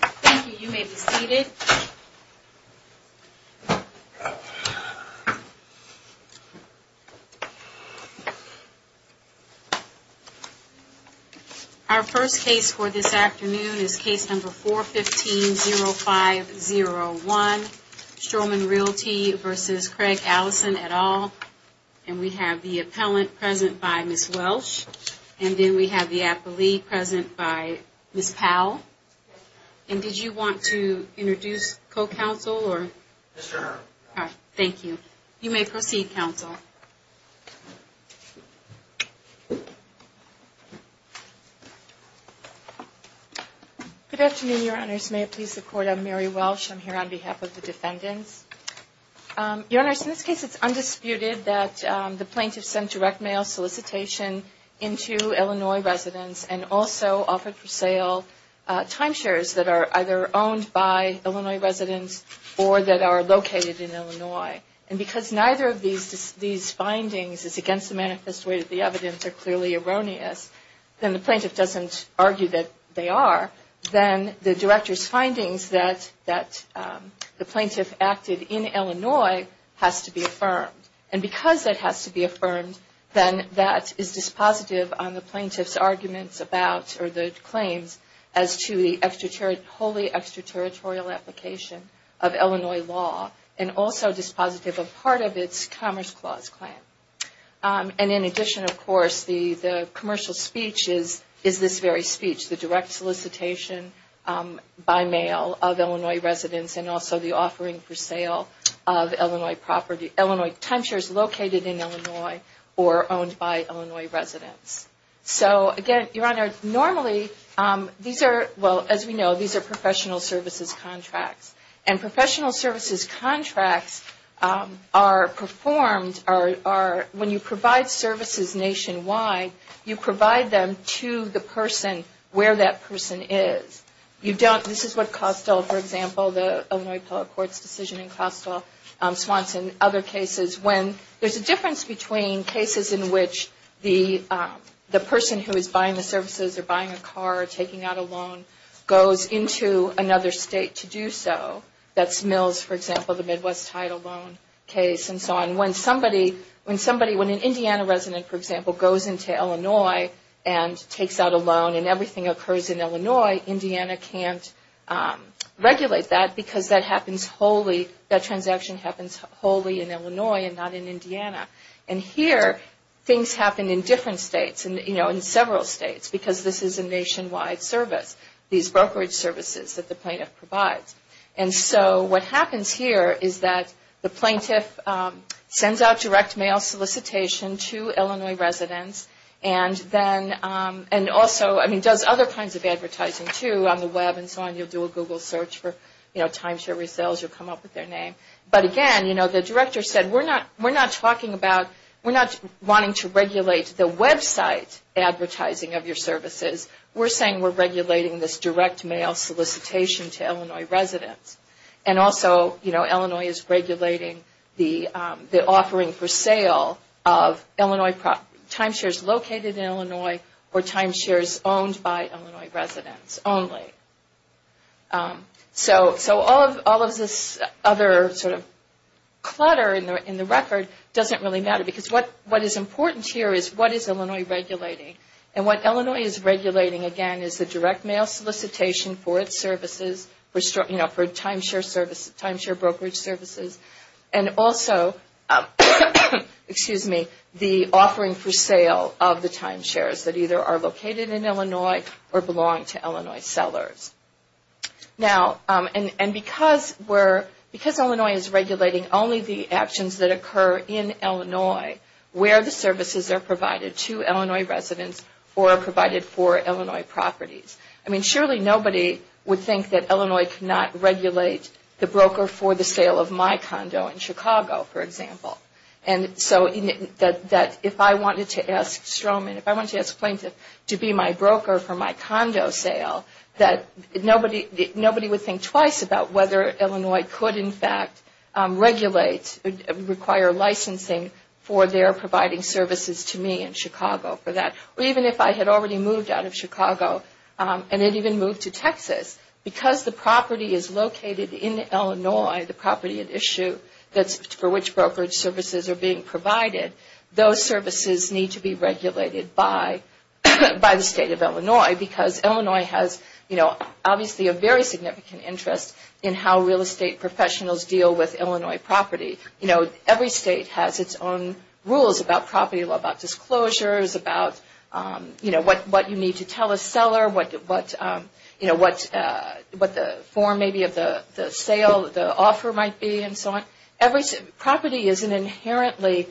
Thank you. You may be seated. Our first case for this afternoon is case number 415-0501, Stroman Realty v. Craig Allison et al., and we have the appellant present by Ms. Welsh, and then we have the appellee present by Ms. Powell. And did you want to introduce co-counsel, or? Mr. Earle. All right. Thank you. You may proceed, counsel. Good afternoon, Your Honors. May it please the Court, I'm Mary Welsh. I'm here on behalf of the defendants. Your Honors, in this case it's undisputed that the plaintiff sent direct mail solicitation into Illinois residents and also offered for sale timeshares that are either owned by Illinois residents or that are located in Illinois. And because neither of these findings is against the manifest way that the evidence are clearly erroneous, then the plaintiff doesn't argue that they are. Then the director's findings that the then that is dispositive on the plaintiff's arguments about or the claims as to the wholly extraterritorial application of Illinois law and also dispositive of part of its Commerce Clause claim. And in addition, of course, the commercial speech is this very speech, the direct solicitation by mail of Illinois residents and also the offering for sale of owned by Illinois residents. So again, Your Honor, normally these are, well, as we know, these are professional services contracts. And professional services contracts are performed are when you provide services nationwide, you provide them to the person where that person is. You don't, this is what Costell, for example, the Illinois Appellate Court's decision in Costell, Swanson, other cases when there's a difference between cases in which the person who is buying the services or buying a car or taking out a loan goes into another state to do so. That's Mills, for example, the Midwest Title Loan case and so on. When somebody, when an Indiana resident, for example, goes into Illinois and takes out a loan and everything occurs in Illinois, Indiana can't regulate that because that transaction happens wholly in Illinois and not in Indiana. And here things happen in different states, in several states, because this is a nationwide service, these brokerage services that the plaintiff provides. And so what happens here is that the plaintiff sends out direct mail solicitation to Illinois residents and then, and also does other kinds of advertising too on the web and so on. You'll do a Google search for timeshare resale, you'll come up with their name. But again, you know, the director said, we're not talking about, we're not wanting to regulate the website advertising of your services. We're saying we're regulating this direct mail solicitation to Illinois residents. And also, you know, Illinois is regulating the offering for sale of Illinois, timeshares located in Illinois or timeshares owned by Illinois residents only. So all of this other sort of clutter in the record doesn't really matter because what is important here is what is Illinois regulating. And what Illinois is regulating, again, is the direct mail solicitation for its services, you know, for timeshare services, timeshare brokerage services. And also, excuse me, the offering for sale of the timeshares that either are located in Illinois or belong to Illinois sellers. Now, and because we're, because Illinois is regulating only the actions that occur in Illinois, where the services are provided to Illinois residents or are provided for Illinois properties. I mean, surely nobody would think that Illinois cannot regulate the broker for the sale of my condo in Chicago, for example. And so that if I wanted to ask Stroman, if I wanted to ask Plaintiff to be my broker for my condo sale, that nobody would think twice about whether Illinois could in fact regulate, require licensing for their providing services to me in Chicago for that. Or even if I had already moved out of Chicago and had even moved to Texas, because the property is located in Illinois, the property at issue for which brokerage services are being provided, those services need to be regulated by the state of Illinois. Because Illinois has, you know, obviously a very significant interest in how real estate professionals deal with Illinois property. You know, every state has its own rules about property law, about disclosures, about, you know, what you need to tell a seller, what, you know, what the form maybe of the sale, the offer might be and so on. Property is an inherently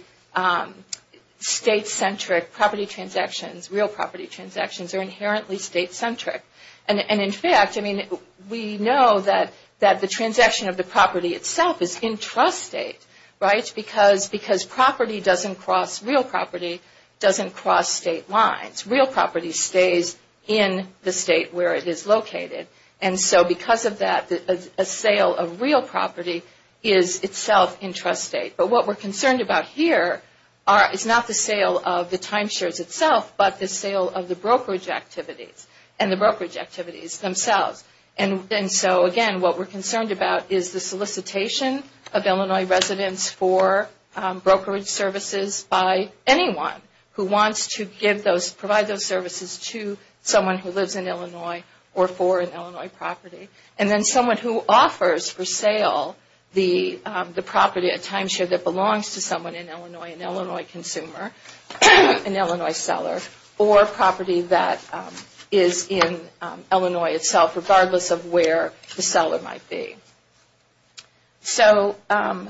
state-centric property transactions, real property transactions are inherently state-centric. And in fact, I mean, we know that the transaction of the property itself is in trust state, right? Because property doesn't cross, real property doesn't cross state lines. Real property stays in the state where it is located. And so because of that, a sale of real property is itself in trust state. But what we're concerned about here is not the sale of the timeshares itself, but the sale of the brokerage activities and the brokerage activities themselves. And so again, what we're concerned about is the one who wants to give those, provide those services to someone who lives in Illinois or for an Illinois property. And then someone who offers for sale the property, a timeshare that belongs to someone in Illinois, an Illinois consumer, an Illinois seller or property that is in Illinois itself regardless of where the seller might be. So, and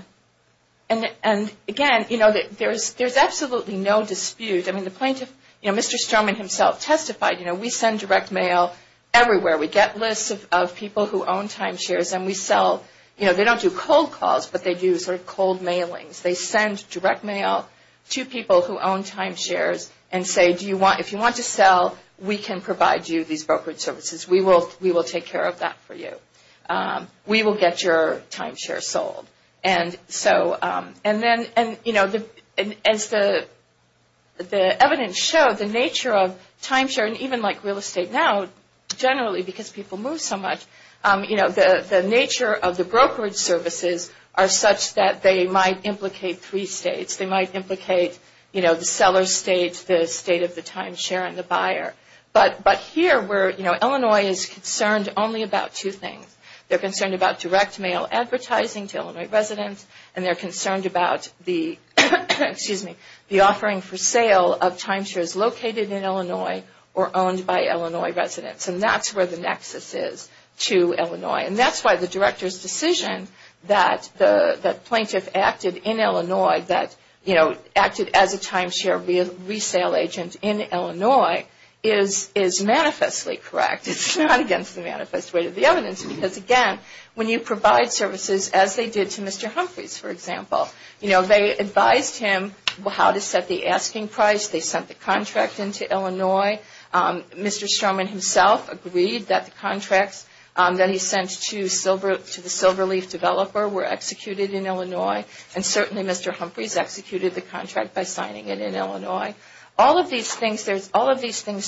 again, you know, there's absolutely no dispute. I mean, the plaintiff, you know, Mr. Sterlman himself testified, you know, we send direct mail everywhere. We get lists of people who own timeshares and we sell, you know, they don't do cold calls, but they do sort of cold mailings. They send direct mail to people who own timeshares and say, do you want, if you want to sell, we can provide you these brokerage services. We will take care of that for you. We will get your timeshare sold. And so, and then, you know, as the evidence showed, the nature of timeshare and even like real estate now, generally because people move so much, you know, the nature of the brokerage services are such that they might implicate three states. They might implicate, you know, the seller's state, the state of the timeshare and the buyer. But here where, you know, Illinois is concerned only about two things. They're concerned about direct mail advertising to Illinois residents and they're concerned about the, excuse me, the offering for sale of timeshares located in Illinois or owned by Illinois residents. And that's where the nexus is to Illinois. And that's why the Director's decision that plaintiff acted in Illinois, that, you know, acted as a timeshare resale agent in Illinois is manifestly correct. It's not against the manifest way of the evidence because, again, when you provide services as they did to Mr. Humphreys, for example, you know, they advised him how to set the asking price. They sent the contract into Illinois. Mr. Stroman himself agreed that the contracts that he sent to the Silverleaf developer were executed in Illinois and certainly Mr. Humphreys executed the contract by signing it in Illinois. All of these things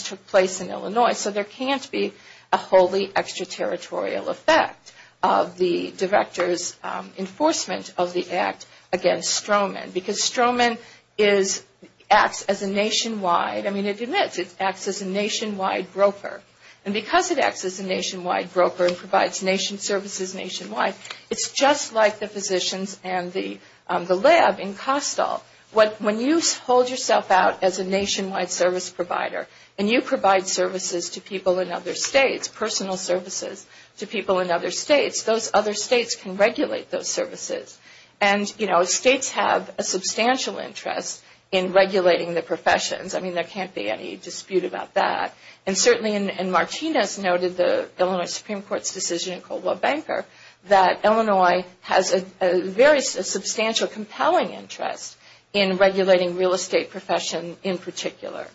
took place in Illinois so there can't be a wholly extraterritorial effect of the Director's enforcement of the act against Stroman because Stroman is, acts as a nationwide, I mean, it admits it acts as a nationwide broker. And because it acts as a nationwide broker and provides nation services nationwide, it's just like the physicians and the lab in Costal. When you hold yourself out as a nationwide service provider and you provide services to people in other states, personal services to people in other states, those other states can regulate those services. And, you know, states have a substantial interest in regulating the professions. I mean, there can't be any dispute about that. And certainly in Martinez noted the Illinois Supreme Court's decision in Coldwell-Banker that Illinois has a very substantial compelling interest in regulating real estate profession in particular.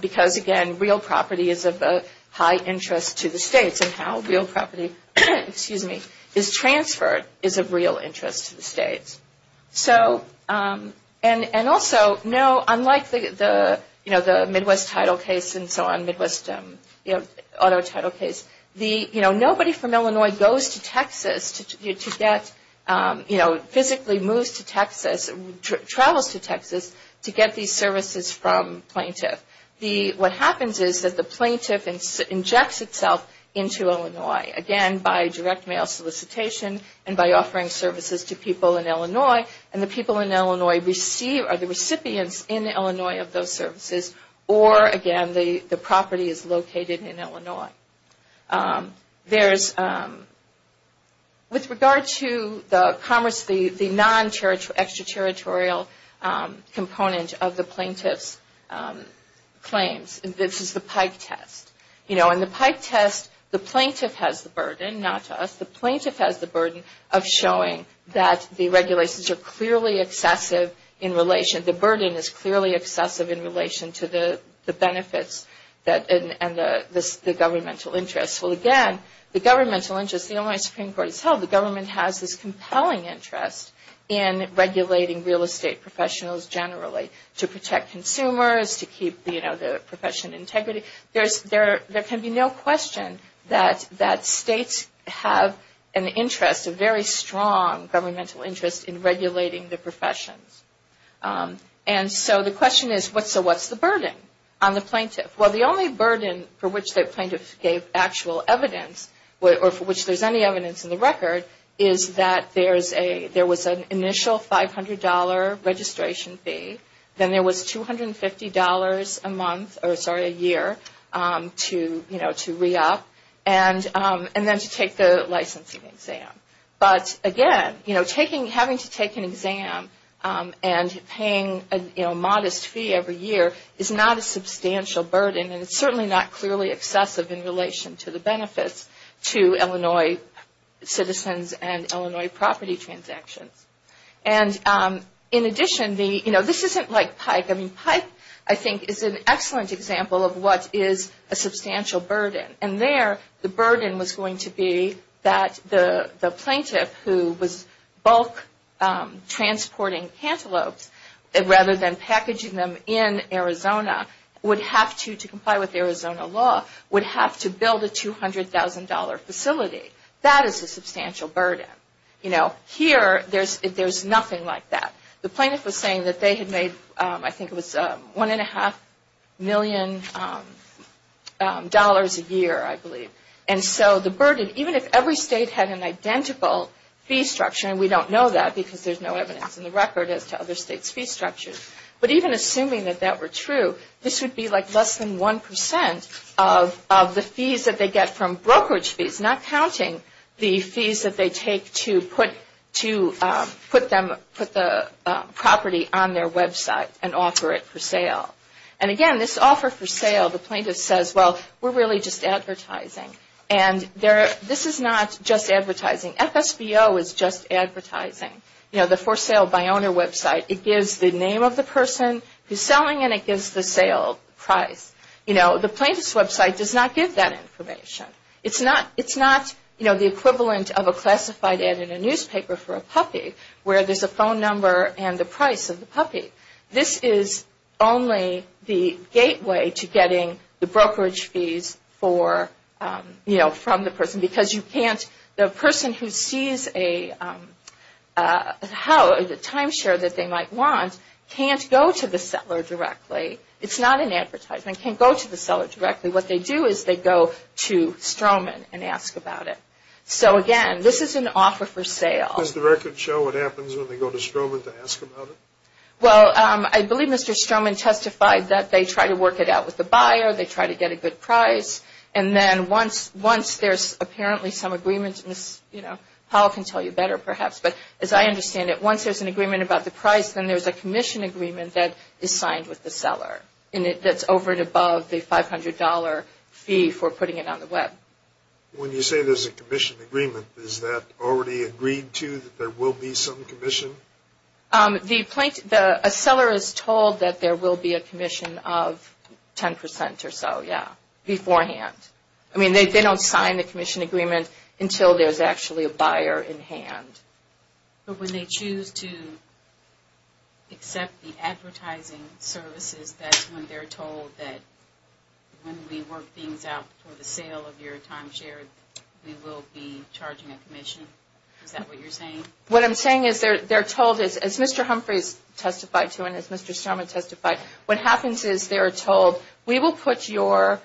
Because again, real property is of high interest to the states and how real property is transferred is of real interest to the states. So, and also, no, unlike the Midwest title case and to get, you know, physically moves to Texas, travels to Texas to get these services from plaintiff. The, what happens is that the plaintiff injects itself into Illinois. Again, by direct mail solicitation and by offering services to people in Illinois. And the people in Illinois receive, are the recipients in Illinois of those services or again, the property is located in Illinois. There's, with regard to the commerce, the non-extraterritorial component of the plaintiff's claims, this is the Pike test. You know, in the Pike test, the plaintiff has the burden, not us, the plaintiff has the burden of showing that the regulations are clearly excessive in relation, the burden is clearly excessive in relation to the benefits that, and the governmental interest. Well, again, the governmental interest, the Illinois Supreme Court has held, the government has this compelling interest in regulating real estate professionals generally to protect consumers, to keep, you know, the profession integrity. There's, there can be no question that states have an interest, a very strong governmental interest in regulating the professions. And so the question is, what's the burden on the plaintiff? Well, the only burden for which the plaintiff gave actual evidence or for which there's any evidence in the record is that there's a, there was an initial $500 registration fee, then there was $250 a month, or sorry, a year to, you know, to re-up and then to take the licensing exam. But again, you know, taking, having to take an exam and paying a, you know, modest fee every year is not a substantial burden and it's certainly not clearly excessive in relation to the benefits to Illinois citizens and Illinois property transactions. And in addition, the, you know, this isn't like Pike. I mean, Pike, I think, is an excellent example of what is a substantial burden. And there, the burden was going to be that the plaintiff who was bulk transporting cantaloupes rather than packaging them in Arizona would have to, to comply with Arizona law, would have to build a $200,000 facility. That is a substantial burden. You know, here, there's nothing like that. The plaintiff was saying that they had made, I think it was $1.5 million a year, I believe. And so the burden, even if every state had an identical fee structure, and we don't know that because there's no evidence in the record as to other states' fee structures, but even assuming that that were true, this would be like less than 1% of the fees that they get from brokerage fees, not counting the fees that they take to put, to put them, put the property on their website and offer it for sale. And again, this offer for sale, the plaintiff says, well, we're really just advertising. And there, this is not just advertising. FSBO is just advertising. You know, the for sale by owner website, it gives the name of the person who's selling and it gives the sale price. You know, the plaintiff's website does not give that information. It's not, it's not, you know, the equivalent of a classified ad in a newspaper for a puppy where there's a phone number and the price of the puppy. This is only the gateway to getting the brokerage fees for, you know, from the person because you can't, the person who sees a, how, the timeshare that they might want can't go to the seller directly. It's not an advertisement. Can't go to the seller directly. What they do is they go to Stroman and ask about it. So again, this is an offer for sale. Does the record show what happens when they go to Stroman to ask about it? Well, I believe Mr. Stroman testified that they try to work it out with the buyer. They try to get a good price. And then once, once there's apparently some agreement, and this, you know, Powell can tell you better perhaps, but as I understand it, once there's an agreement about the price, then there's a commission agreement that is signed with the seller. And it, that's over and above the $500 fee for putting it on the web. When you say there's a commission agreement, is that already agreed to that there will be some commission? The plaintiff, the, a seller is told that there will be a commission of 10% or so, yeah, beforehand. I mean, they don't sign the commission agreement until there's actually a buyer in hand. But when they choose to accept the advertising services, that's when they're told that when we work things out for the sale of your timeshare, we will be charging a commission? Is that what you're saying? What I'm saying is they're told, as Mr. Humphreys testified to, and as Mr. Starman testified, what happens is they're told we will put your,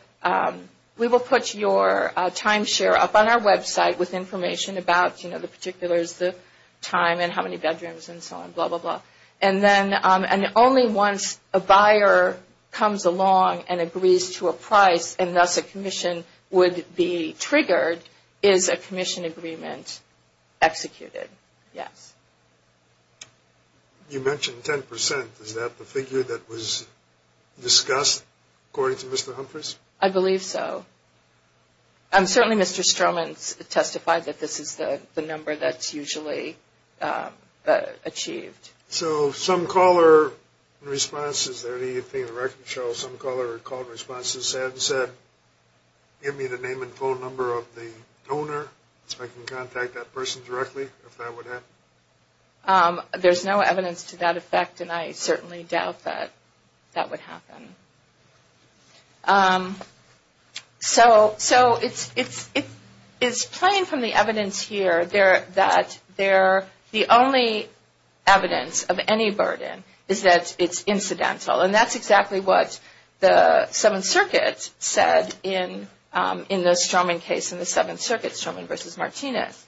we will put your timeshare up on our website with information about, you know, the particulars, the time, and how many bedrooms, and so on, blah, blah, blah. And then, and only once a buyer comes along and agrees to a price, and thus a commission would be triggered, is a commission agreement executed. Yes. You mentioned 10%. Is that the figure that was discussed, according to Mr. Humphreys? I believe so. Certainly Mr. Starman testified that this is the number that's usually achieved. So some caller responses, is there anything in the record, Cheryl, some caller called and said, give me the name and phone number of the donor so I can contact that person directly, if that would happen? There's no evidence to that effect, and I certainly doubt that that would happen. So it's plain from the evidence here that the only evidence of any burden is that it's the 7th Circuit said in the Strowman case, in the 7th Circuit, Strowman v. Martinez,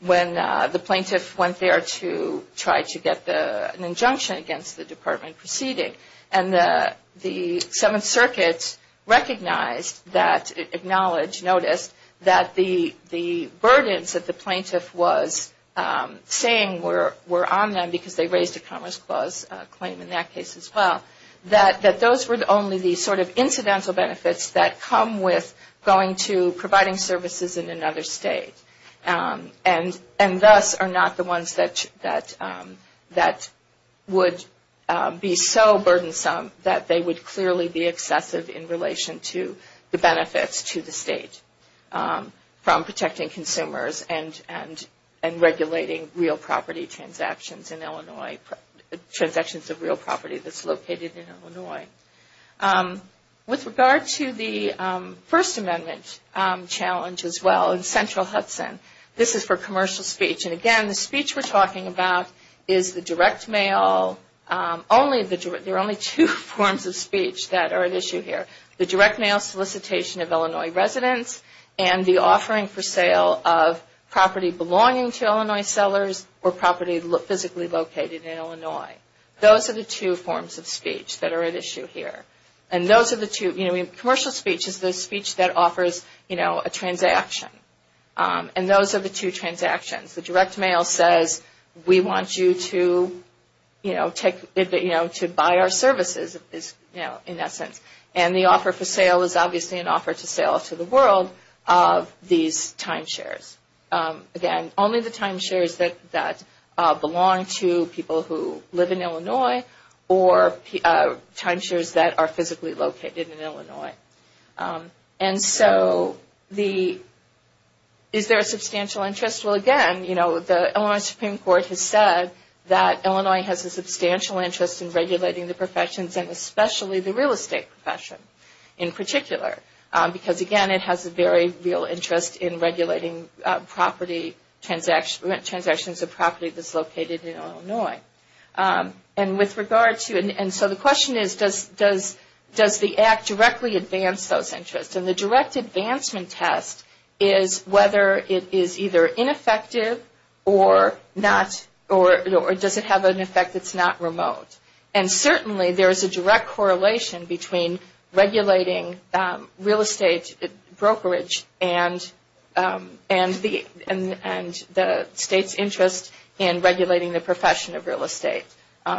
when the plaintiff went there to try to get an injunction against the department proceeding, and the 7th Circuit recognized that, acknowledged, noticed that the burdens that the plaintiff was saying were on them, because they raised a Commerce Clause claim in that case as well, that those were only the sort of incidental benefits that come with going to providing services in another state, and thus are not the ones that would be so burdensome that they would clearly be excessive in relation to the benefits to the state from protecting consumers and regulating real property transactions in Illinois, transactions of real property that's located in Illinois. With regard to the First Amendment challenge as well, in Central Hudson, this is for commercial speech, and again, the speech we're talking about is the direct mail, there are only two forms of speech that are at issue here, the direct mail solicitation of Illinois residents and the offering for sale of property belonging to Illinois sellers or property physically located in Illinois. Those are the two forms of speech that are at issue here. Commercial speech is the speech that offers a transaction, and those are the two transactions. The direct mail says, we want you to buy our services, in that sense, and the offer for sale is obviously an offer to sell to the world of these timeshares. Again, only the timeshares that belong to people who live in Illinois or timeshares that are physically located in Illinois. Is there a substantial interest? Well, again, the Illinois Supreme Court has said that Illinois has a substantial interest in regulating the professions and especially the real estate profession, in particular, because again, it has a very real interest in regulating transactions of property that's located in Illinois. And so the question is, does the Act directly advance those interests? And the direct advancement test is whether it is either ineffective or does it have an effect that's not remote? And certainly, there is a direct correlation between regulating real estate brokerage and the act itself. And the state's interest in regulating the profession of real estate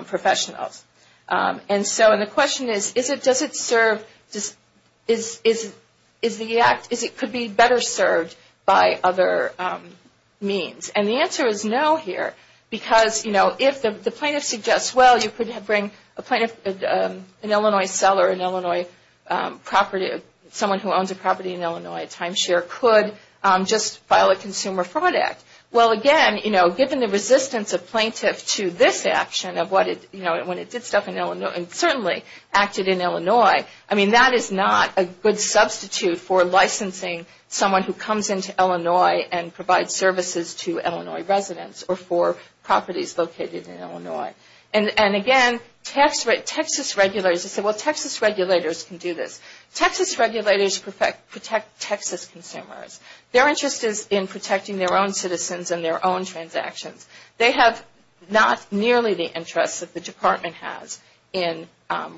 professionals. And so the question is, does it serve, is the act, could it be better served by other means? And the answer is no here, because if the plaintiff suggests, well, you could bring a plaintiff, an Illinois seller, an Illinois property, someone who owns a property in Illinois timeshare could just file a consumer fraud act. Well, again, given the resistance of plaintiff to this action of what it, when it did stuff in Illinois, and certainly acted in Illinois, I mean, that is not a good substitute for licensing someone who comes into Illinois and provides services to Illinois residents or for properties located in Illinois. And again, Texas regulators, they say, well, Texas regulators can do this. Texas regulators protect Texas consumers. Their interest is in protecting their own citizens and their own transactions. They have not nearly the interest that the Department has in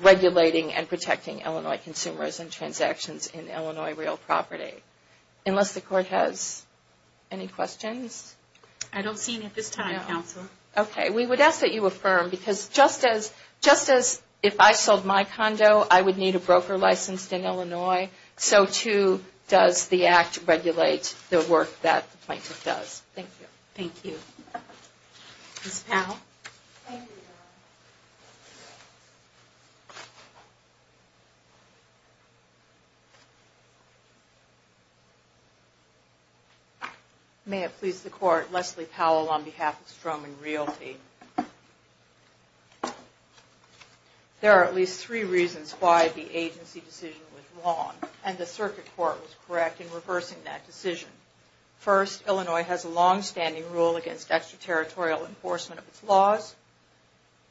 regulating and protecting Illinois consumers and transactions in Illinois real property. Unless the Court has any questions? I don't see any at this time, Counselor. Okay. We would ask that you affirm, because just as, just as if I sold my condo, I would need a broker license in Illinois, so too does the Act regulate the work that the plaintiff does. Thank you. Thank you. Ms. Powell? Thank you, Your Honor. May it please the Court, Leslie Powell on behalf of Stroman Realty. There are at least three reasons why the agency decision was wrong and the Circuit Court was correct in reversing that decision. First, Illinois has a longstanding rule against extraterritorial enforcement of its laws.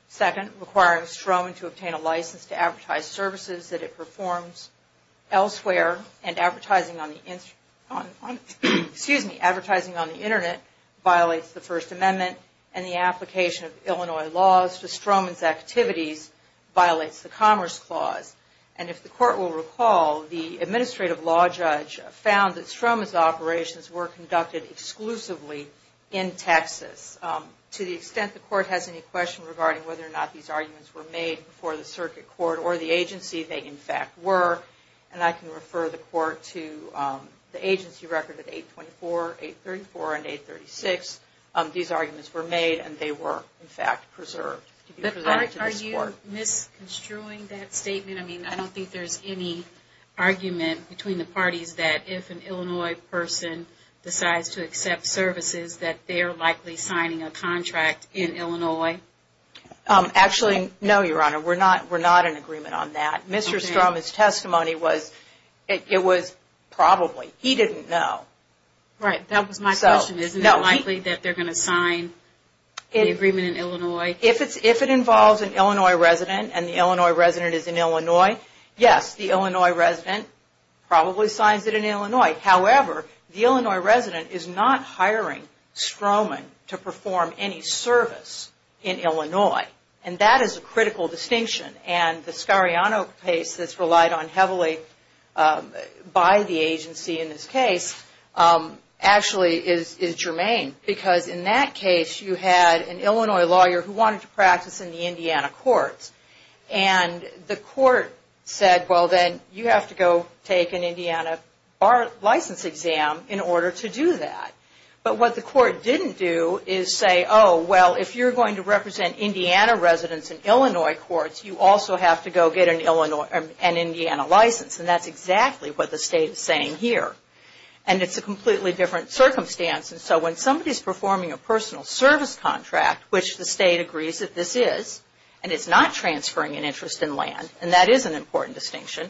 Second, requiring Stroman to obtain a license to advertise services that it performs elsewhere and advertising on the Internet violates the First Amendment and the application of Illinois laws to Stroman's activities violates the Commerce Clause. And if the Court will recall, the Administrative Law Judge found that Stroman's operations were conducted exclusively in Texas. To the extent the Court has any questions regarding whether or not these arguments were made before the Circuit Court or the agency, they in fact were. And I can refer the Court to the agency record at 824, 834, and 836. These arguments were made and they were, in fact, preserved to this Court. But, Your Honor, are you misconstruing that statement? I mean, I don't think there's any argument between the parties that if an Illinois person decides to accept services, that they are likely signing a contract in Illinois. Actually, no, Your Honor. We're not in agreement on that. Mr. Stroman's testimony was, it was probably. He didn't know. Right. That was my question. Isn't it likely that they're going to sign the agreement in Illinois? If it involves an Illinois resident and the Illinois resident is in Illinois, yes, the Illinois resident probably signs it in Illinois. However, the Illinois resident is not hiring Stroman to perform any service in Illinois. And that is a critical distinction. And the actually is germane. Because in that case, you had an Illinois lawyer who wanted to practice in the Indiana courts. And the court said, well, then you have to go take an Indiana license exam in order to do that. But what the court didn't do is say, oh, well, if you're going to represent Indiana residents in Illinois courts, you also have to go get an Indiana license. And that's exactly what the State is saying here. And it's a completely different circumstance. And so when somebody's performing a personal service contract, which the State agrees that this is, and it's not transferring an interest in land, and that is an important distinction,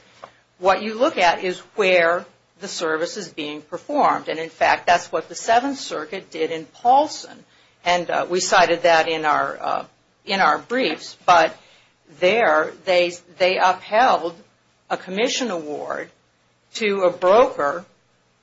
what you look at is where the service is being performed. And in fact, that's what the Seventh Circuit did in Paulson. And we cited that in our briefs. But there, they upheld a commission award to a broker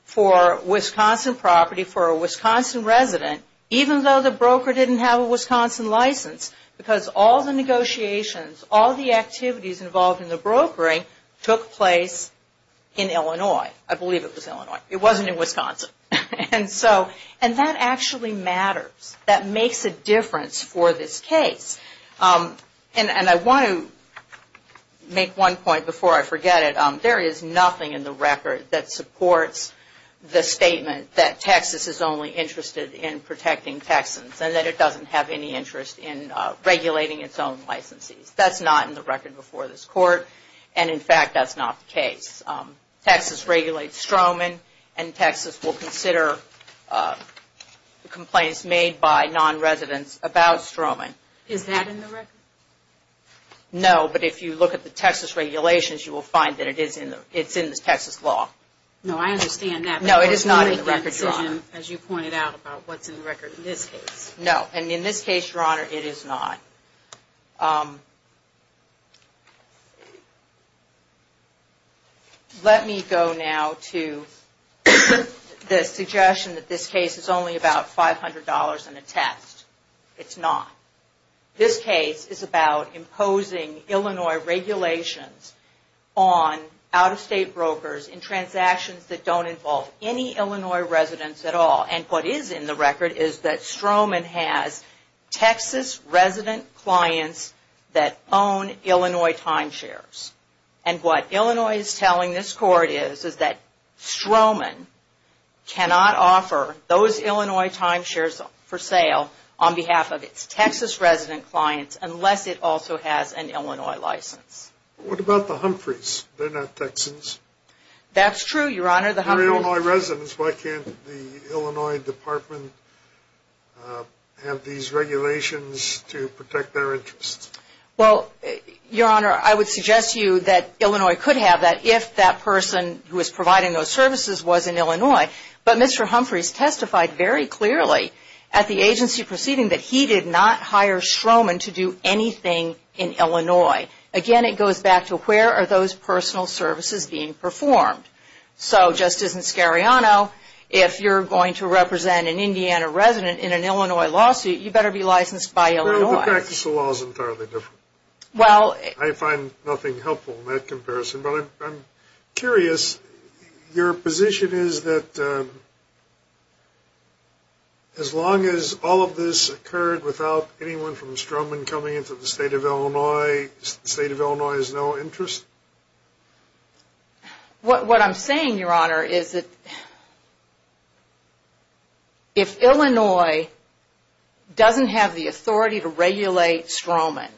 for Wisconsin property for a Wisconsin resident, even though the broker didn't have a Wisconsin license. Because all the negotiations, all the activities involved in the brokering took place in Illinois. I believe it was Illinois. It wasn't in Wisconsin. And that actually matters. That makes a difference for this case. And I want to make one point before I forget it. There is nothing in the record that supports the statement that Texas is only interested in protecting Texans and that it doesn't have any interest in regulating its own licensees. That's not in the record before this Court. And in fact, that's not the case. Texas regulates Stroman, and Texas will consider complaints made by non-residents about Stroman. Is that in the record? No, but if you look at the Texas regulations, you will find that it's in the Texas law. No, I understand that. No, it is not in the record, Your Honor. As you pointed out about what's in the record in this case. No, and in this case, Your Honor, it is not. Let me go now to the suggestion that this case is only about $500 and a test. It's not. This case is about imposing Illinois regulations on out-of-state brokers in transactions that don't involve any Illinois residents at all. And what is in the record is that Stroman has Texas resident clients that own Illinois timeshares. And what Illinois is telling this Court is, is that Stroman cannot offer those Illinois timeshares for sale on behalf of its Texas resident clients unless it also has an Illinois license. What about the Humphreys? They're not Texans. That's true, Your Honor. They're Illinois residents. Why can't the Illinois Department have these regulations to protect their interests? Well, Your Honor, I would suggest to you that Illinois could have that if that person who was providing those services was in Illinois. But Mr. Humphreys testified very clearly at the agency proceeding that he did not hire Stroman to do anything in Illinois. Again, it goes back to where are those personal services being performed? So, Justice Inscariano, if you're going to represent an Indiana resident in an Illinois lawsuit, you better be licensed by Illinois. Well, the practice of law is entirely different. I find nothing helpful in that comparison. But I'm curious, your position is that as long as all of this occurred without anyone from Stroman coming into the state of Illinois, the state of Illinois has no interest? What I'm saying, Your Honor, is that if Illinois doesn't have the authority to regulate Stroman,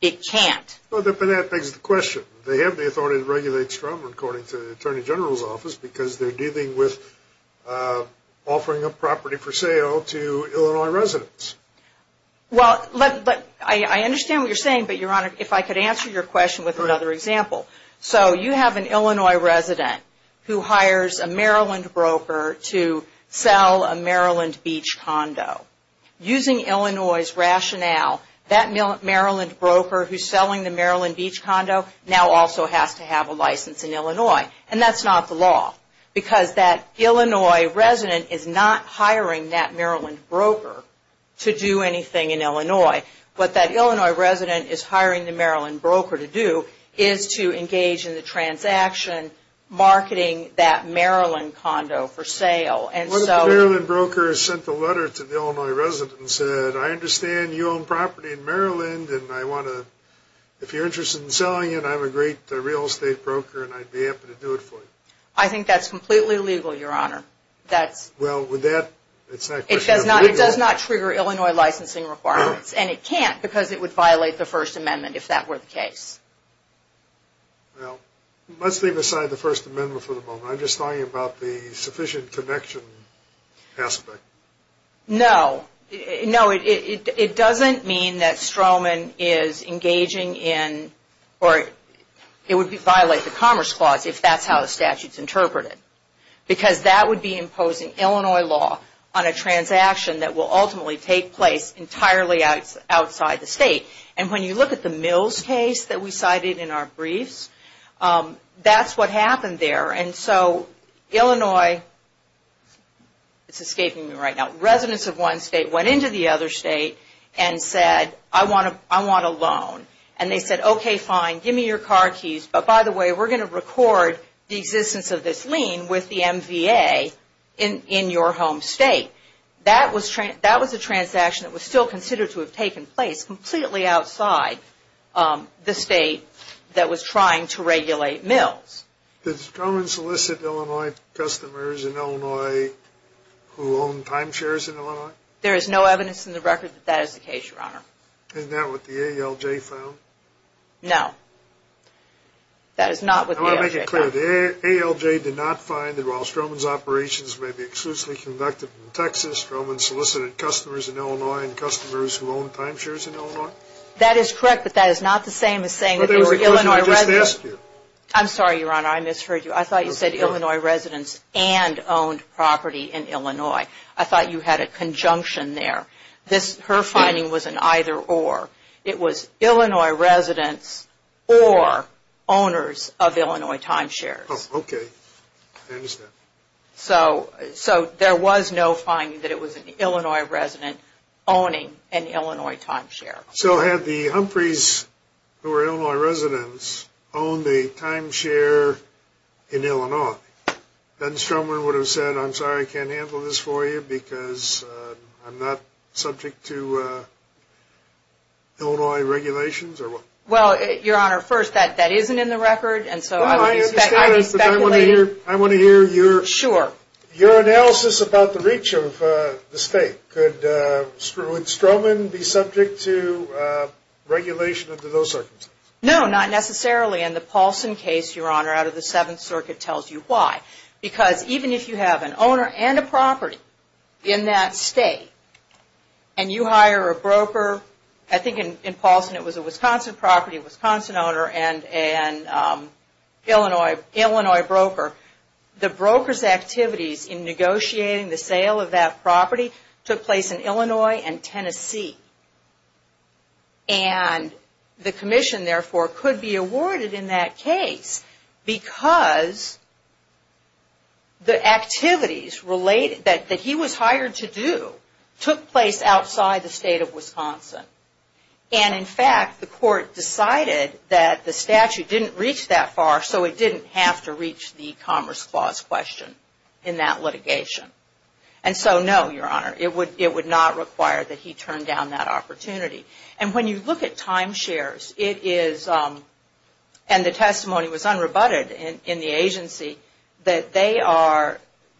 it can't. But that begs the question. They have the authority to regulate Stroman according to the Attorney General's Office because they're dealing with offering a property for sale to Illinois residents. Well, I understand what you're saying, but Your Honor, if I could answer your question with another example. So, you have an Illinois resident who hires a Maryland broker to sell a Maryland beach condo. Using Illinois' rationale, that Maryland broker who's selling the Maryland beach condo now also has to have a license in Illinois. And that's not the law because that Illinois resident is not hiring that Maryland broker to do anything in Illinois. What that Illinois resident is hiring the Maryland broker to do is to engage in the transaction marketing that Maryland condo for sale. What if the Maryland broker sent a letter to the Illinois resident and said, I understand you own property in Maryland and I want to, if you're interested in selling it, I'm a great real estate broker and I'd be happy to do it for you. I think that's completely illegal, Your Honor. Well, with that, it's not question of legal. It does not trigger Illinois licensing requirements and it can't because it would violate the First Amendment if that were the case. Well, let's leave aside the First Amendment for the moment. I'm just talking about the sufficient connection aspect. No. No, it doesn't mean that Stroman is engaging in, or it would violate the Commerce Clause if that's how the statute is interpreted. Because that would be imposing Illinois law on a transaction that will ultimately take place entirely outside the state. And when you look at the Mills case that we cited in our briefs, that's what happened there. And so Illinois, it's escaping me right now, residents of one state went into the other state and said, I want a loan. And they said, okay, fine, give me your car keys, but by the way, we're going to record the existence of this lien with the MVA in your home state. That was a transaction that was still considered to have taken place completely outside the state that was trying to regulate Mills. Did Stroman solicit Illinois customers in Illinois who own timeshares in Illinois? There is no evidence in the record that that is the case, Your Honor. Isn't that what the ALJ found? No. That is not what the ALJ found. I want to make it clear, the ALJ did not find that while Stroman's operations may be exclusively conducted in Texas, Stroman solicited customers in Illinois and customers who own timeshares in Illinois? That is correct, but that is not the same as saying that they were Illinois residents. I'm sorry, Your Honor, I misheard you. I thought you said Illinois residents and owned property in Illinois. I thought you had a conjunction there. Her finding was an either or. It was Illinois residents or owners of Illinois timeshares. Okay. I understand. So there was no finding that it was an Illinois resident owning an Illinois timeshare. So had the Humphreys, who were Illinois residents, owned a timeshare in Illinois, then Stroman would have said, I'm sorry, I can't handle this for you because I'm not subject to Illinois regulations? Well, Your Honor, first, that isn't in the record, and so I would be speculating. I want to hear your analysis about the reach of the state. Could Stroman be subject to regulation under those circumstances? No, not necessarily. In the Paulson case, Your Honor, out of the Seventh Circuit, tells you why. Because even if you have an owner and a property in that state, and you hire a broker, I think in Paulson it was a Wisconsin property, a Wisconsin owner, and an Illinois broker. The broker's activities in negotiating the sale of that property took place in Illinois and Tennessee. And the commission, therefore, could be awarded in that case because the activities that he was hired to do took place outside the state of Wisconsin. And in fact, the court decided that the statute didn't reach that far, so it didn't have to reach the Commerce Clause question in that litigation. And so, no, Your Honor, it would not require that he turn down that opportunity. And when you look at timeshares, it is, and the testimony was unrebutted in the agency, that they are,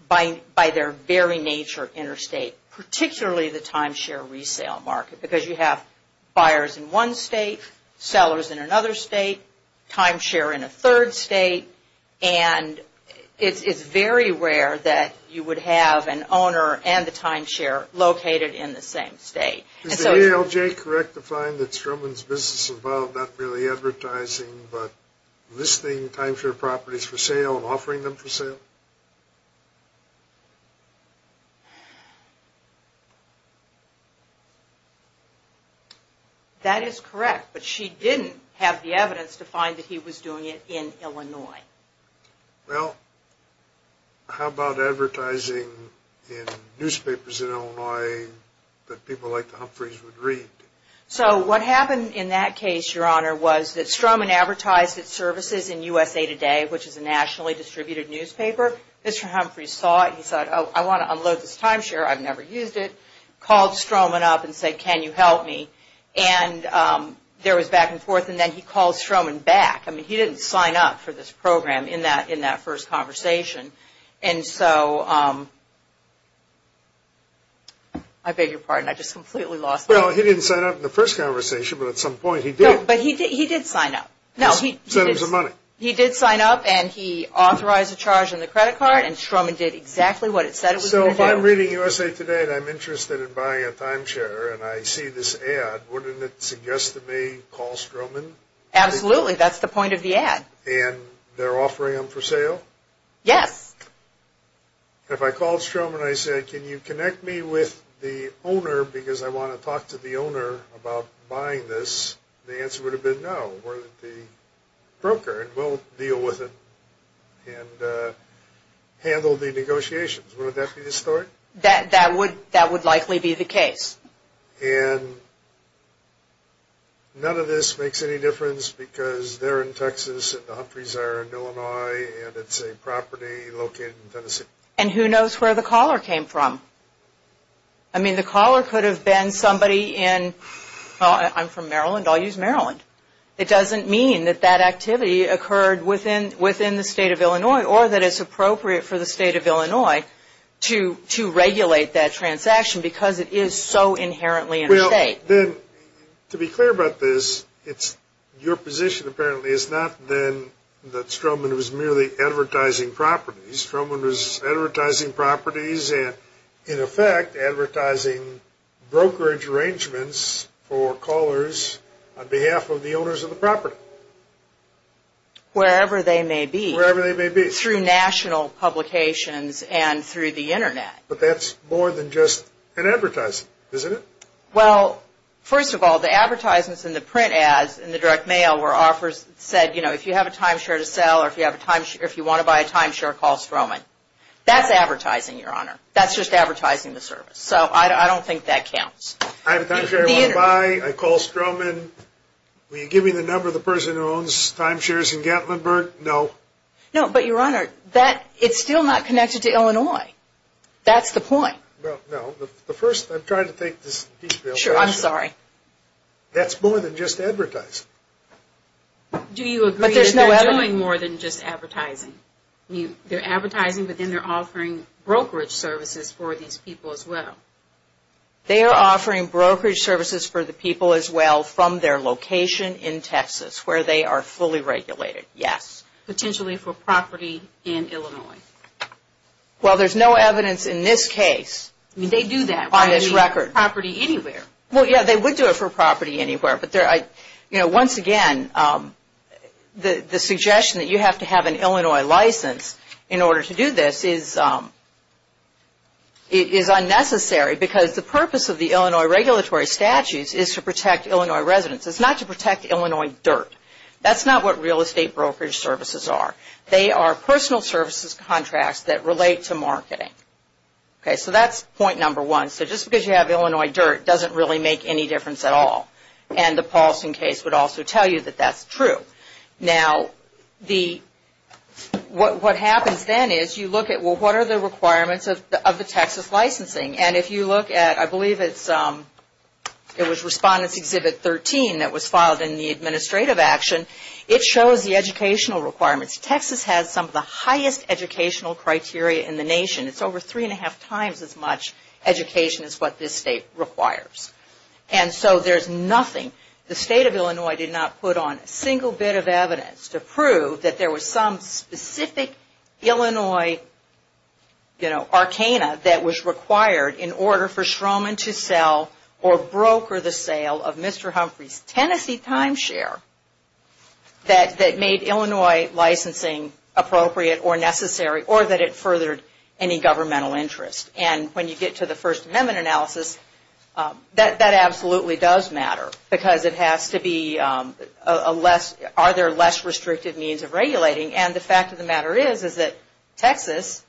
by their very nature, interstate, particularly the timeshare resale market. Because you have buyers in one state, sellers in another state, timeshare in a third state, and it's very rare that you would have an owner and the timeshare located in the same state. Is the ALJ correct to find that Stroman's business involved not merely advertising, but listing timeshare properties for sale and offering them for sale? That is correct, but she didn't have the evidence to find that he was doing it in Illinois. Well, how about advertising in newspapers in Illinois that people like the Humphreys would read? So what happened in that case, Your Honor, was that Stroman advertised its services in USA Today, which is a nationally distributed newspaper. Mr. Humphrey saw it and he said, oh, I want to unload this timeshare, I've never used it, called Stroman up and said, can you help me? And there was back and forth, and then he called Stroman back. I mean, he didn't sign up for this program in that first conversation. And so, I beg your pardon, I just completely lost my mind. Well, he didn't sign up in the first conversation, but at some point he did. No, but he did sign up. No, he did. He did sign up and he authorized a charge in the credit card, and Stroman did exactly what it said it was going to do. So if I'm reading USA Today and I'm interested in buying a timeshare and I see this ad, wouldn't it suggest to me call Stroman? Absolutely, that's the point of the ad. And they're offering them for sale? Yes. If I called Stroman and I said, can you connect me with the owner because I want to talk to the owner about buying this, the answer would have been no. The broker will deal with it and handle the negotiations. Wouldn't that be the story? That would likely be the case. And none of this makes any difference because they're in Texas and the Humphreys are in Illinois, and it's a property located in Tennessee. And who knows where the caller came from? I mean, the caller could have been somebody in, well, I'm from Maryland, I'll use Maryland. It doesn't mean that that activity occurred within the state of Illinois or that it's appropriate for the state of Illinois to regulate that transaction because it is so inherently in the state. Well, to be clear about this, your position apparently is not then that Stroman was merely advertising properties. Stroman was advertising properties and, in effect, advertising brokerage arrangements for callers on behalf of the owners of the property. Wherever they may be. Wherever they may be. Through national publications and through the Internet. But that's more than just an advertising, isn't it? Well, first of all, the advertisements and the print ads and the direct mail were offers that said, you know, if you have a timeshare to sell or if you want to buy a timeshare, call Stroman. That's advertising, Your Honor. That's just advertising the service. So I don't think that counts. I have a timeshare I want to buy. I call Stroman. Will you give me the number of the person who owns timeshares in Gatlinburg? No. No, but, Your Honor, it's still not connected to Illinois. That's the point. Well, no. The first, I'm trying to take this in detail. Sure, I'm sorry. That's more than just advertising. Do you agree that they're doing more than just advertising? They're advertising, but then they're offering brokerage services for these people as well. They are offering brokerage services for the people as well from their location in Texas where they are fully regulated, yes. Potentially for property in Illinois. Well, there's no evidence in this case. They do that. On this record. Property anywhere. Well, yeah, they would do it for property anywhere. But, you know, once again, the suggestion that you have to have an Illinois license in order to do this is unnecessary because the purpose of the Illinois regulatory statutes is to protect Illinois residents. It's not to protect Illinois dirt. That's not what real estate brokerage services are. They are personal services contracts that relate to marketing. Okay, so that's point number one. So just because you have Illinois dirt doesn't really make any difference at all. And the Paulson case would also tell you that that's true. Now, what happens then is you look at, well, what are the requirements of the Texas licensing? And if you look at, I believe it was Respondents Exhibit 13 that was filed in the administrative action, it shows the educational requirements. Texas has some of the highest educational criteria in the nation. It's over three and a half times as much education as what this state requires. And so there's nothing, the state of Illinois did not put on a single bit of evidence to prove that there was some specific Illinois, you know, arcana that was required in order for Stroman to sell or broker the sale of Mr. Humphrey's Tennessee timeshare that made Illinois licensing appropriate or necessary or that it furthered any governmental interest. And when you get to the First Amendment analysis, that absolutely does matter because it has to be a less, are there less restrictive means of regulating? And the fact of the matter is, is that Texas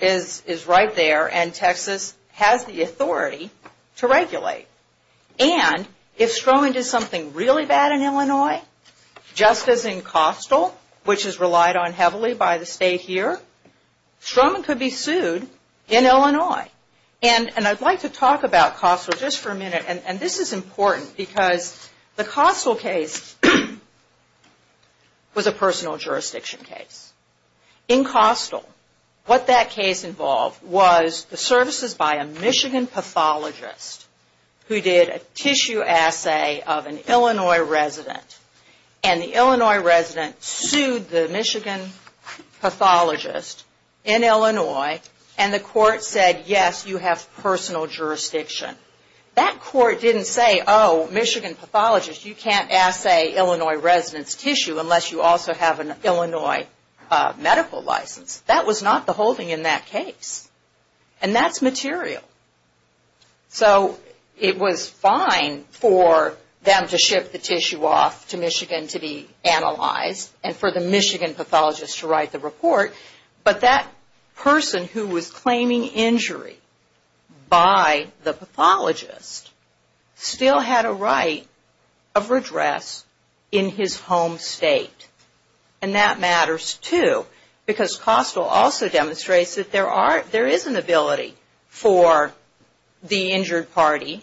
is right there and Texas has the authority to regulate. And if Stroman did something really bad in Illinois, just as in Costal, which is relied on heavily by the state here, Stroman could be sued in Illinois. And I'd like to talk about Costal just for a minute. And this is important because the Costal case was a personal jurisdiction case. In Costal, what that case involved was the services by a Michigan pathologist who did a tissue assay of an Illinois resident. And the Illinois resident sued the Michigan pathologist in Illinois and the court said, yes, you have personal jurisdiction. That court didn't say, oh, Michigan pathologist, you can't assay Illinois resident's tissue unless you also have an Illinois medical license. That was not the holding in that case. And that's material. So it was fine for them to ship the tissue off to Michigan to be analyzed and for the Michigan pathologist to write the report. But that person who was claiming injury by the pathologist still had a right of redress in his home state. And that matters, too, because Costal also demonstrates that there is an ability for the injured party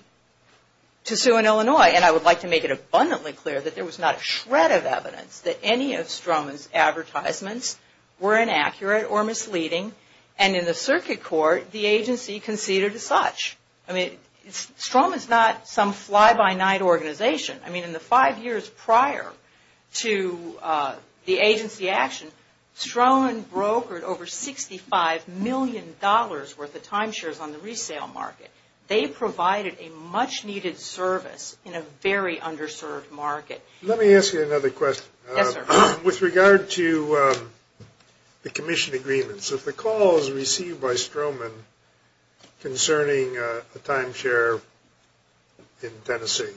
to sue in Illinois. And I would like to make it abundantly clear that there was not a shred of evidence that any of Stroman's advertisements were inaccurate or misleading. And in the circuit court, the agency conceded as such. I mean, Stroman's not some fly-by-night organization. I mean, in the five years prior to the agency action, Stroman brokered over $65 million worth of timeshares on the resale market. They provided a much-needed service in a very underserved market. Let me ask you another question. Yes, sir. With regard to the commission agreements, if the call is received by Stroman concerning a timeshare in Tennessee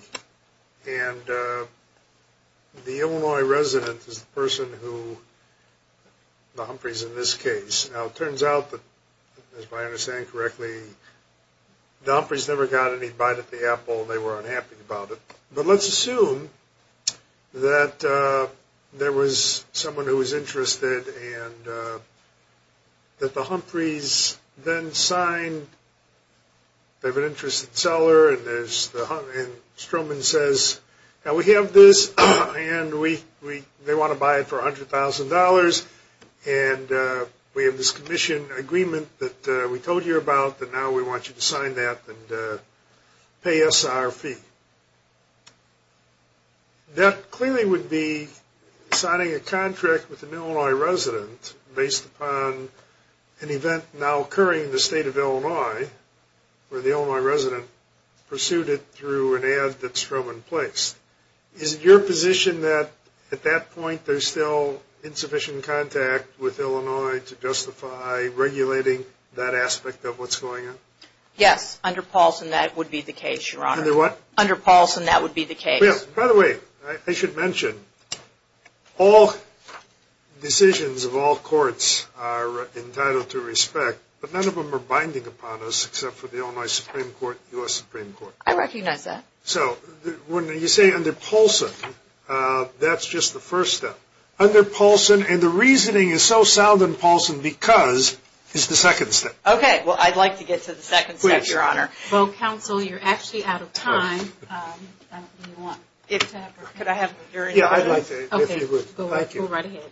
and the Illinois resident is the person who, the Humphreys in this case. Now, it turns out that, if I understand correctly, the Humphreys never got any bite at the apple. They were unhappy about it. But let's assume that there was someone who was interested and that the Humphreys then signed. They have an interested seller and Stroman says, now we have this and they want to buy it for $100,000 and we have this commission agreement that we told you about and now we want you to sign that and pay us our fee. That clearly would be signing a contract with an Illinois resident based upon an event now occurring in the state of Illinois where the Illinois resident pursued it through an ad that Stroman placed. Is it your position that at that point there's still insufficient contact with Illinois to justify regulating that aspect of what's going on? Yes, under Paulson that would be the case, Your Honor. Under what? Under Paulson that would be the case. By the way, I should mention, all decisions of all courts are entitled to respect, but none of them are binding upon us except for the Illinois Supreme Court and the U.S. Supreme Court. I recognize that. So when you say under Paulson, that's just the first step. Under Paulson, and the reasoning is so sound in Paulson because it's the second step. Okay. Well, I'd like to get to the second step, Your Honor. Please. Well, counsel, you're actually out of time. Could I have your interview? Yeah, I'd like that if you would. Thank you. Go right ahead.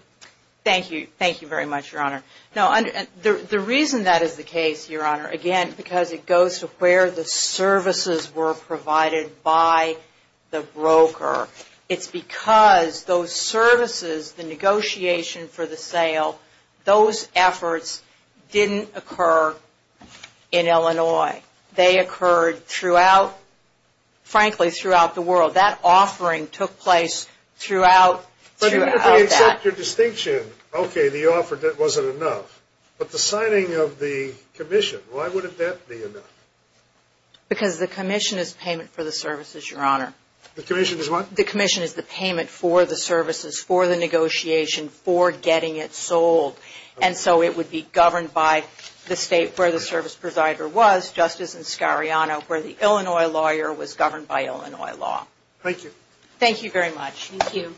Thank you. Thank you very much, Your Honor. The reason that is the case, Your Honor, again, because it goes to where the services were provided by the broker, it's because those services, the negotiation for the sale, those efforts didn't occur in Illinois. They occurred throughout, frankly, throughout the world. That offering took place throughout that. If I accept your distinction, okay, the offer wasn't enough, but the signing of the commission, why would that be enough? Because the commission is payment for the services, Your Honor. The commission is what? The commission is the payment for the services, for the negotiation, for getting it sold. And so it would be governed by the state where the service provider was, Justice Inscariano, where the Illinois lawyer was governed by Illinois law. Thank you. Thank you very much. Thank you. Thank you.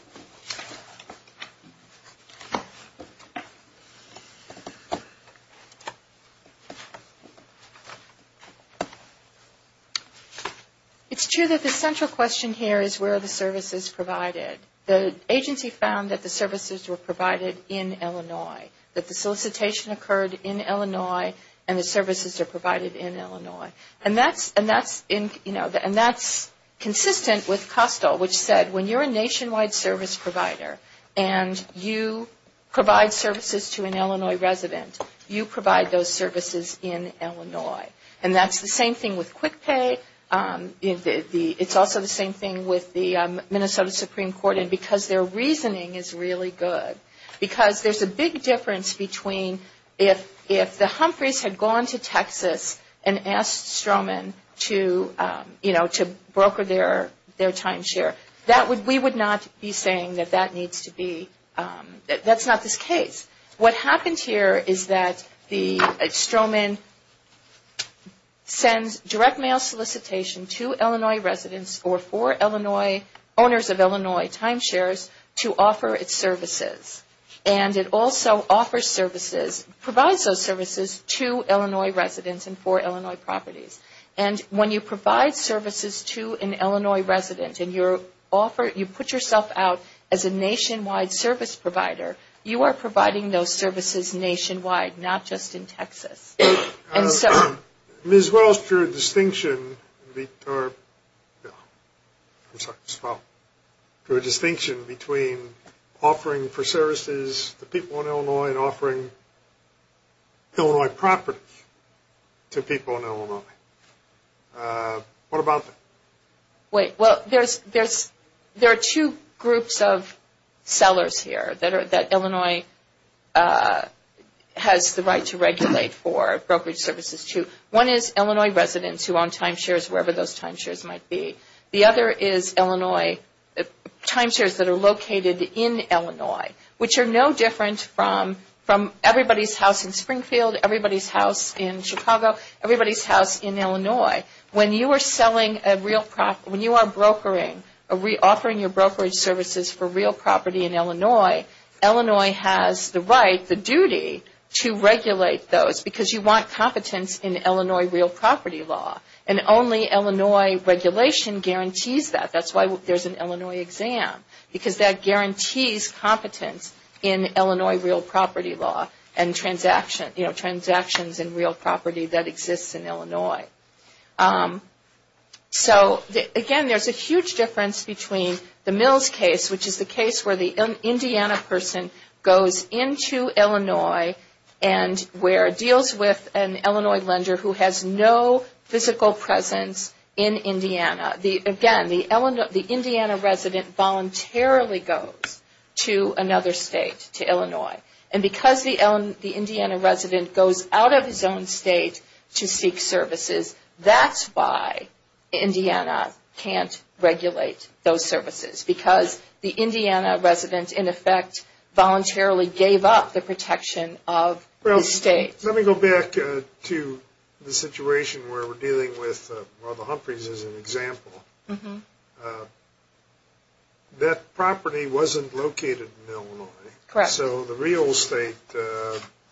It's true that the central question here is where are the services provided? The agency found that the services were provided in Illinois, that the solicitation occurred in Illinois And that's consistent with COSTEL, which said when you're a nationwide service provider and you provide services to an Illinois resident, you provide those services in Illinois. And that's the same thing with QuickPay. It's also the same thing with the Minnesota Supreme Court, because their reasoning is really good. Because there's a big difference between if the Humphreys had gone to Texas and asked Stroman to, you know, to broker their timeshare, we would not be saying that that needs to be, that's not this case. What happens here is that Stroman sends direct mail solicitation to Illinois residents or for owners of Illinois timeshares to offer its services. And it also offers services, provides those services to Illinois residents and for Illinois properties. And when you provide services to an Illinois resident and you put yourself out as a nationwide service provider, you are providing those services nationwide, not just in Texas. Ms. Wells drew a distinction between offering for services to people in Illinois and offering Illinois properties to people in Illinois. What about that? Wait, well, there are two groups of sellers here that Illinois has the right to regulate for brokerage services to. One is Illinois residents who own timeshares, wherever those timeshares might be. The other is Illinois timeshares that are located in Illinois, which are no different from everybody's house in Springfield, everybody's house in Chicago, everybody's house in Illinois. When you are selling a real property, when you are brokering, offering your brokerage services for real property in Illinois, Illinois has the right, the duty to regulate those because you want competence in Illinois real property law. And only Illinois regulation guarantees that. That's why there's an Illinois exam because that guarantees competence in Illinois real property law and transactions in real property that exists in Illinois. So, again, there's a huge difference between the Mills case, which is the case where the Indiana person goes into Illinois and where it deals with an Illinois lender who has no physical presence in Indiana. Again, the Indiana resident voluntarily goes to another state, to Illinois. And because the Indiana resident goes out of his own state to seek services, that's why Indiana can't regulate those services because the Indiana resident, in effect, voluntarily gave up the protection of the state. Well, let me go back to the situation where we're dealing with Ronald Humphreys as an example. That property wasn't located in Illinois. Correct. So the real estate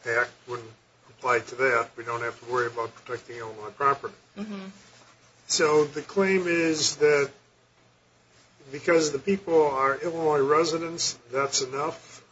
act wouldn't apply to that. We don't have to worry about protecting Illinois property. So the claim is that because the people are Illinois residents, that's enough?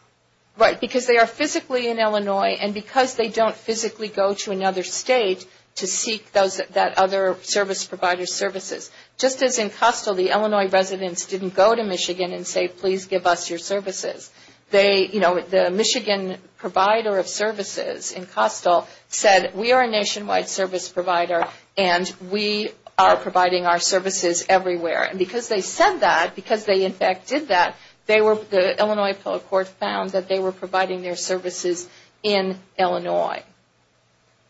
Right, because they are physically in Illinois, and because they don't physically go to another state to seek that other service provider's services. Just as in Costill, the Illinois residents didn't go to Michigan and say, please give us your services. The Michigan provider of services in Costill said, we are a nationwide service provider and we are providing our services everywhere. And because they said that, because they, in fact, did that, the Illinois appellate court found that they were providing their services in Illinois.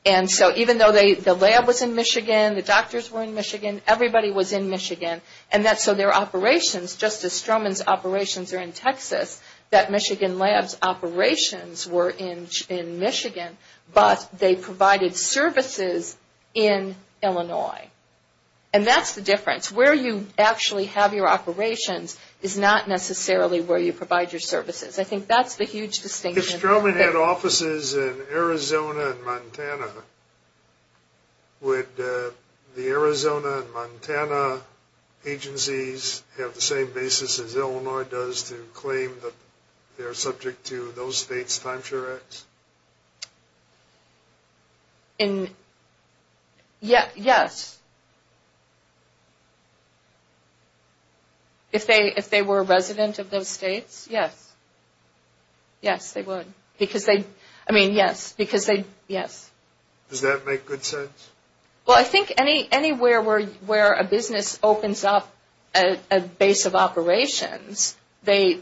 And so even though the lab was in Michigan, the doctors were in Michigan, everybody was in Michigan. And so their operations, just as Stroman's operations are in Texas, that Michigan lab's operations were in Michigan, but they provided services in Illinois. And that's the difference. Where you actually have your operations is not necessarily where you provide your services. I think that's the huge distinction. If Stroman had offices in Arizona and Montana, would the Arizona and Montana agencies have the same basis as Illinois does to claim that they are subject to those states' timeshare acts? Yes. If they were a resident of those states, yes. Yes, they would. Because they, I mean, yes. Because they, yes. Does that make good sense? Well, I think anywhere where a business opens up a base of operations, they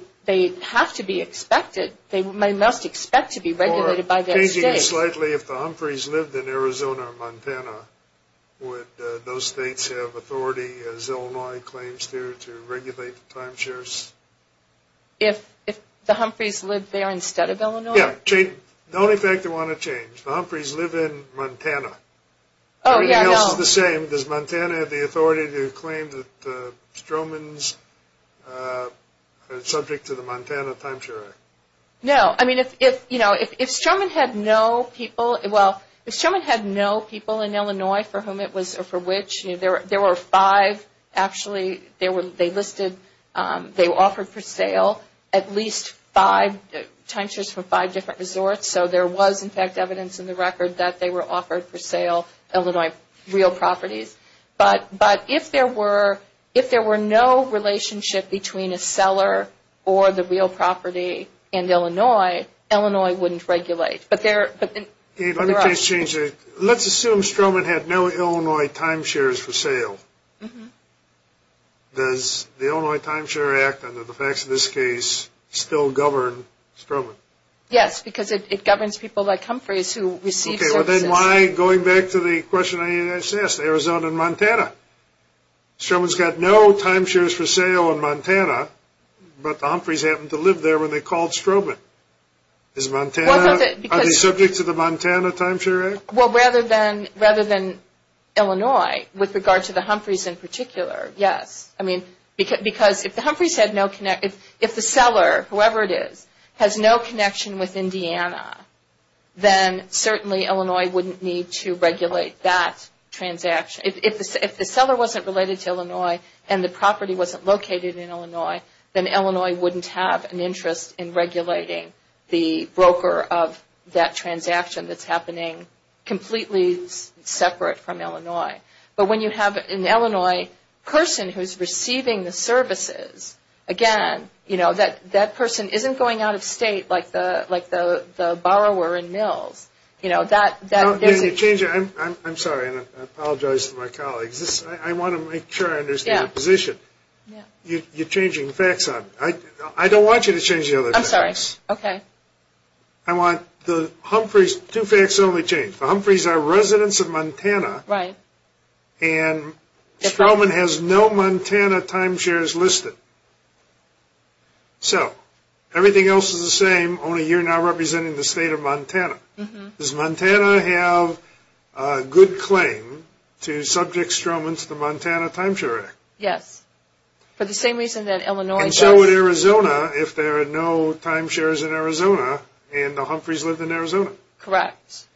have to be expected. They must expect to be regulated. Or changing it slightly, if the Humphreys lived in Arizona or Montana, would those states have authority, as Illinois claims to, to regulate timeshares? If the Humphreys lived there instead of Illinois? Yes. The only thing I want to change, the Humphreys live in Montana. Oh, yes. Everything else is the same. Does Montana have the authority to claim that Stroman's subject to the Montana timeshare act? No. I mean, if, you know, if Stroman had no people, well, if Stroman had no people in Illinois for whom it was, or for which, there were five, actually, they listed, they offered for sale at least five timeshares for five different resorts. So there was, in fact, evidence in the record that they were offered for sale Illinois real properties. But if there were, if there were no relationship between a seller or the real property in Illinois, Illinois wouldn't regulate. But there are other options. Let's assume Stroman had no Illinois timeshares for sale. Does the Illinois timeshare act, under the facts of this case, still govern Stroman? Yes, because it governs people like Humphreys who receive services. But then why, going back to the question I just asked, Arizona and Montana. Stroman's got no timeshares for sale in Montana, but the Humphreys happened to live there when they called Stroman. Is Montana, are they subject to the Montana timeshare act? Well, rather than Illinois, with regard to the Humphreys in particular, yes. I mean, because if the Humphreys had no, if the seller, whoever it is, has no connection with Indiana, then certainly Illinois wouldn't need to regulate that transaction. If the seller wasn't related to Illinois and the property wasn't located in Illinois, then Illinois wouldn't have an interest in regulating the broker of that transaction that's happening completely separate from Illinois. But when you have an Illinois person who is receiving the services, again, you know, that person isn't going out of state like the borrower in Mills. You know, that there's a change. I'm sorry, and I apologize to my colleagues. I want to make sure I understand your position. You're changing facts. I don't want you to change the other facts. I'm sorry. Okay. I want the Humphreys, two facts only change. The Humphreys are residents of Montana. Right. And Stroman has no Montana timeshares listed. So everything else is the same, only you're now representing the state of Montana. Does Montana have a good claim to subject Stroman to the Montana Timeshare Act? Yes, for the same reason that Illinois does. And so would Arizona if there are no timeshares in Arizona and the Humphreys lived in Arizona. Correct.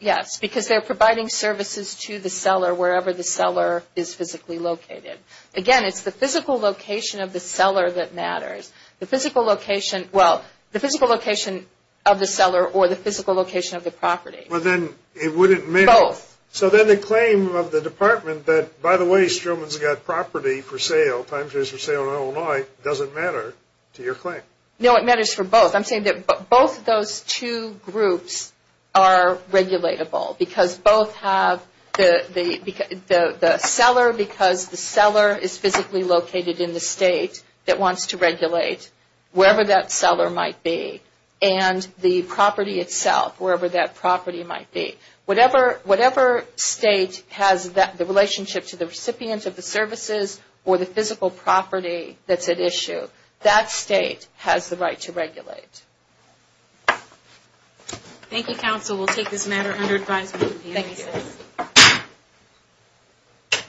Yes, because they're providing services to the seller wherever the seller is physically located. Again, it's the physical location of the seller that matters. The physical location, well, the physical location of the seller or the physical location of the property. Well, then it wouldn't matter. Both. So then the claim of the department that, by the way, Stroman's got property for sale, timeshares for sale in Illinois, doesn't matter to your claim. No, it matters for both. I'm saying that both of those two groups are regulatable because both have the seller, because the seller is physically located in the state that wants to regulate wherever that seller might be, and the property itself, wherever that property might be. Whatever state has the relationship to the recipient of the services or the physical property that's at issue, that state has the right to regulate. Thank you, counsel. We'll take this matter under advisement. Thank you. Thank you.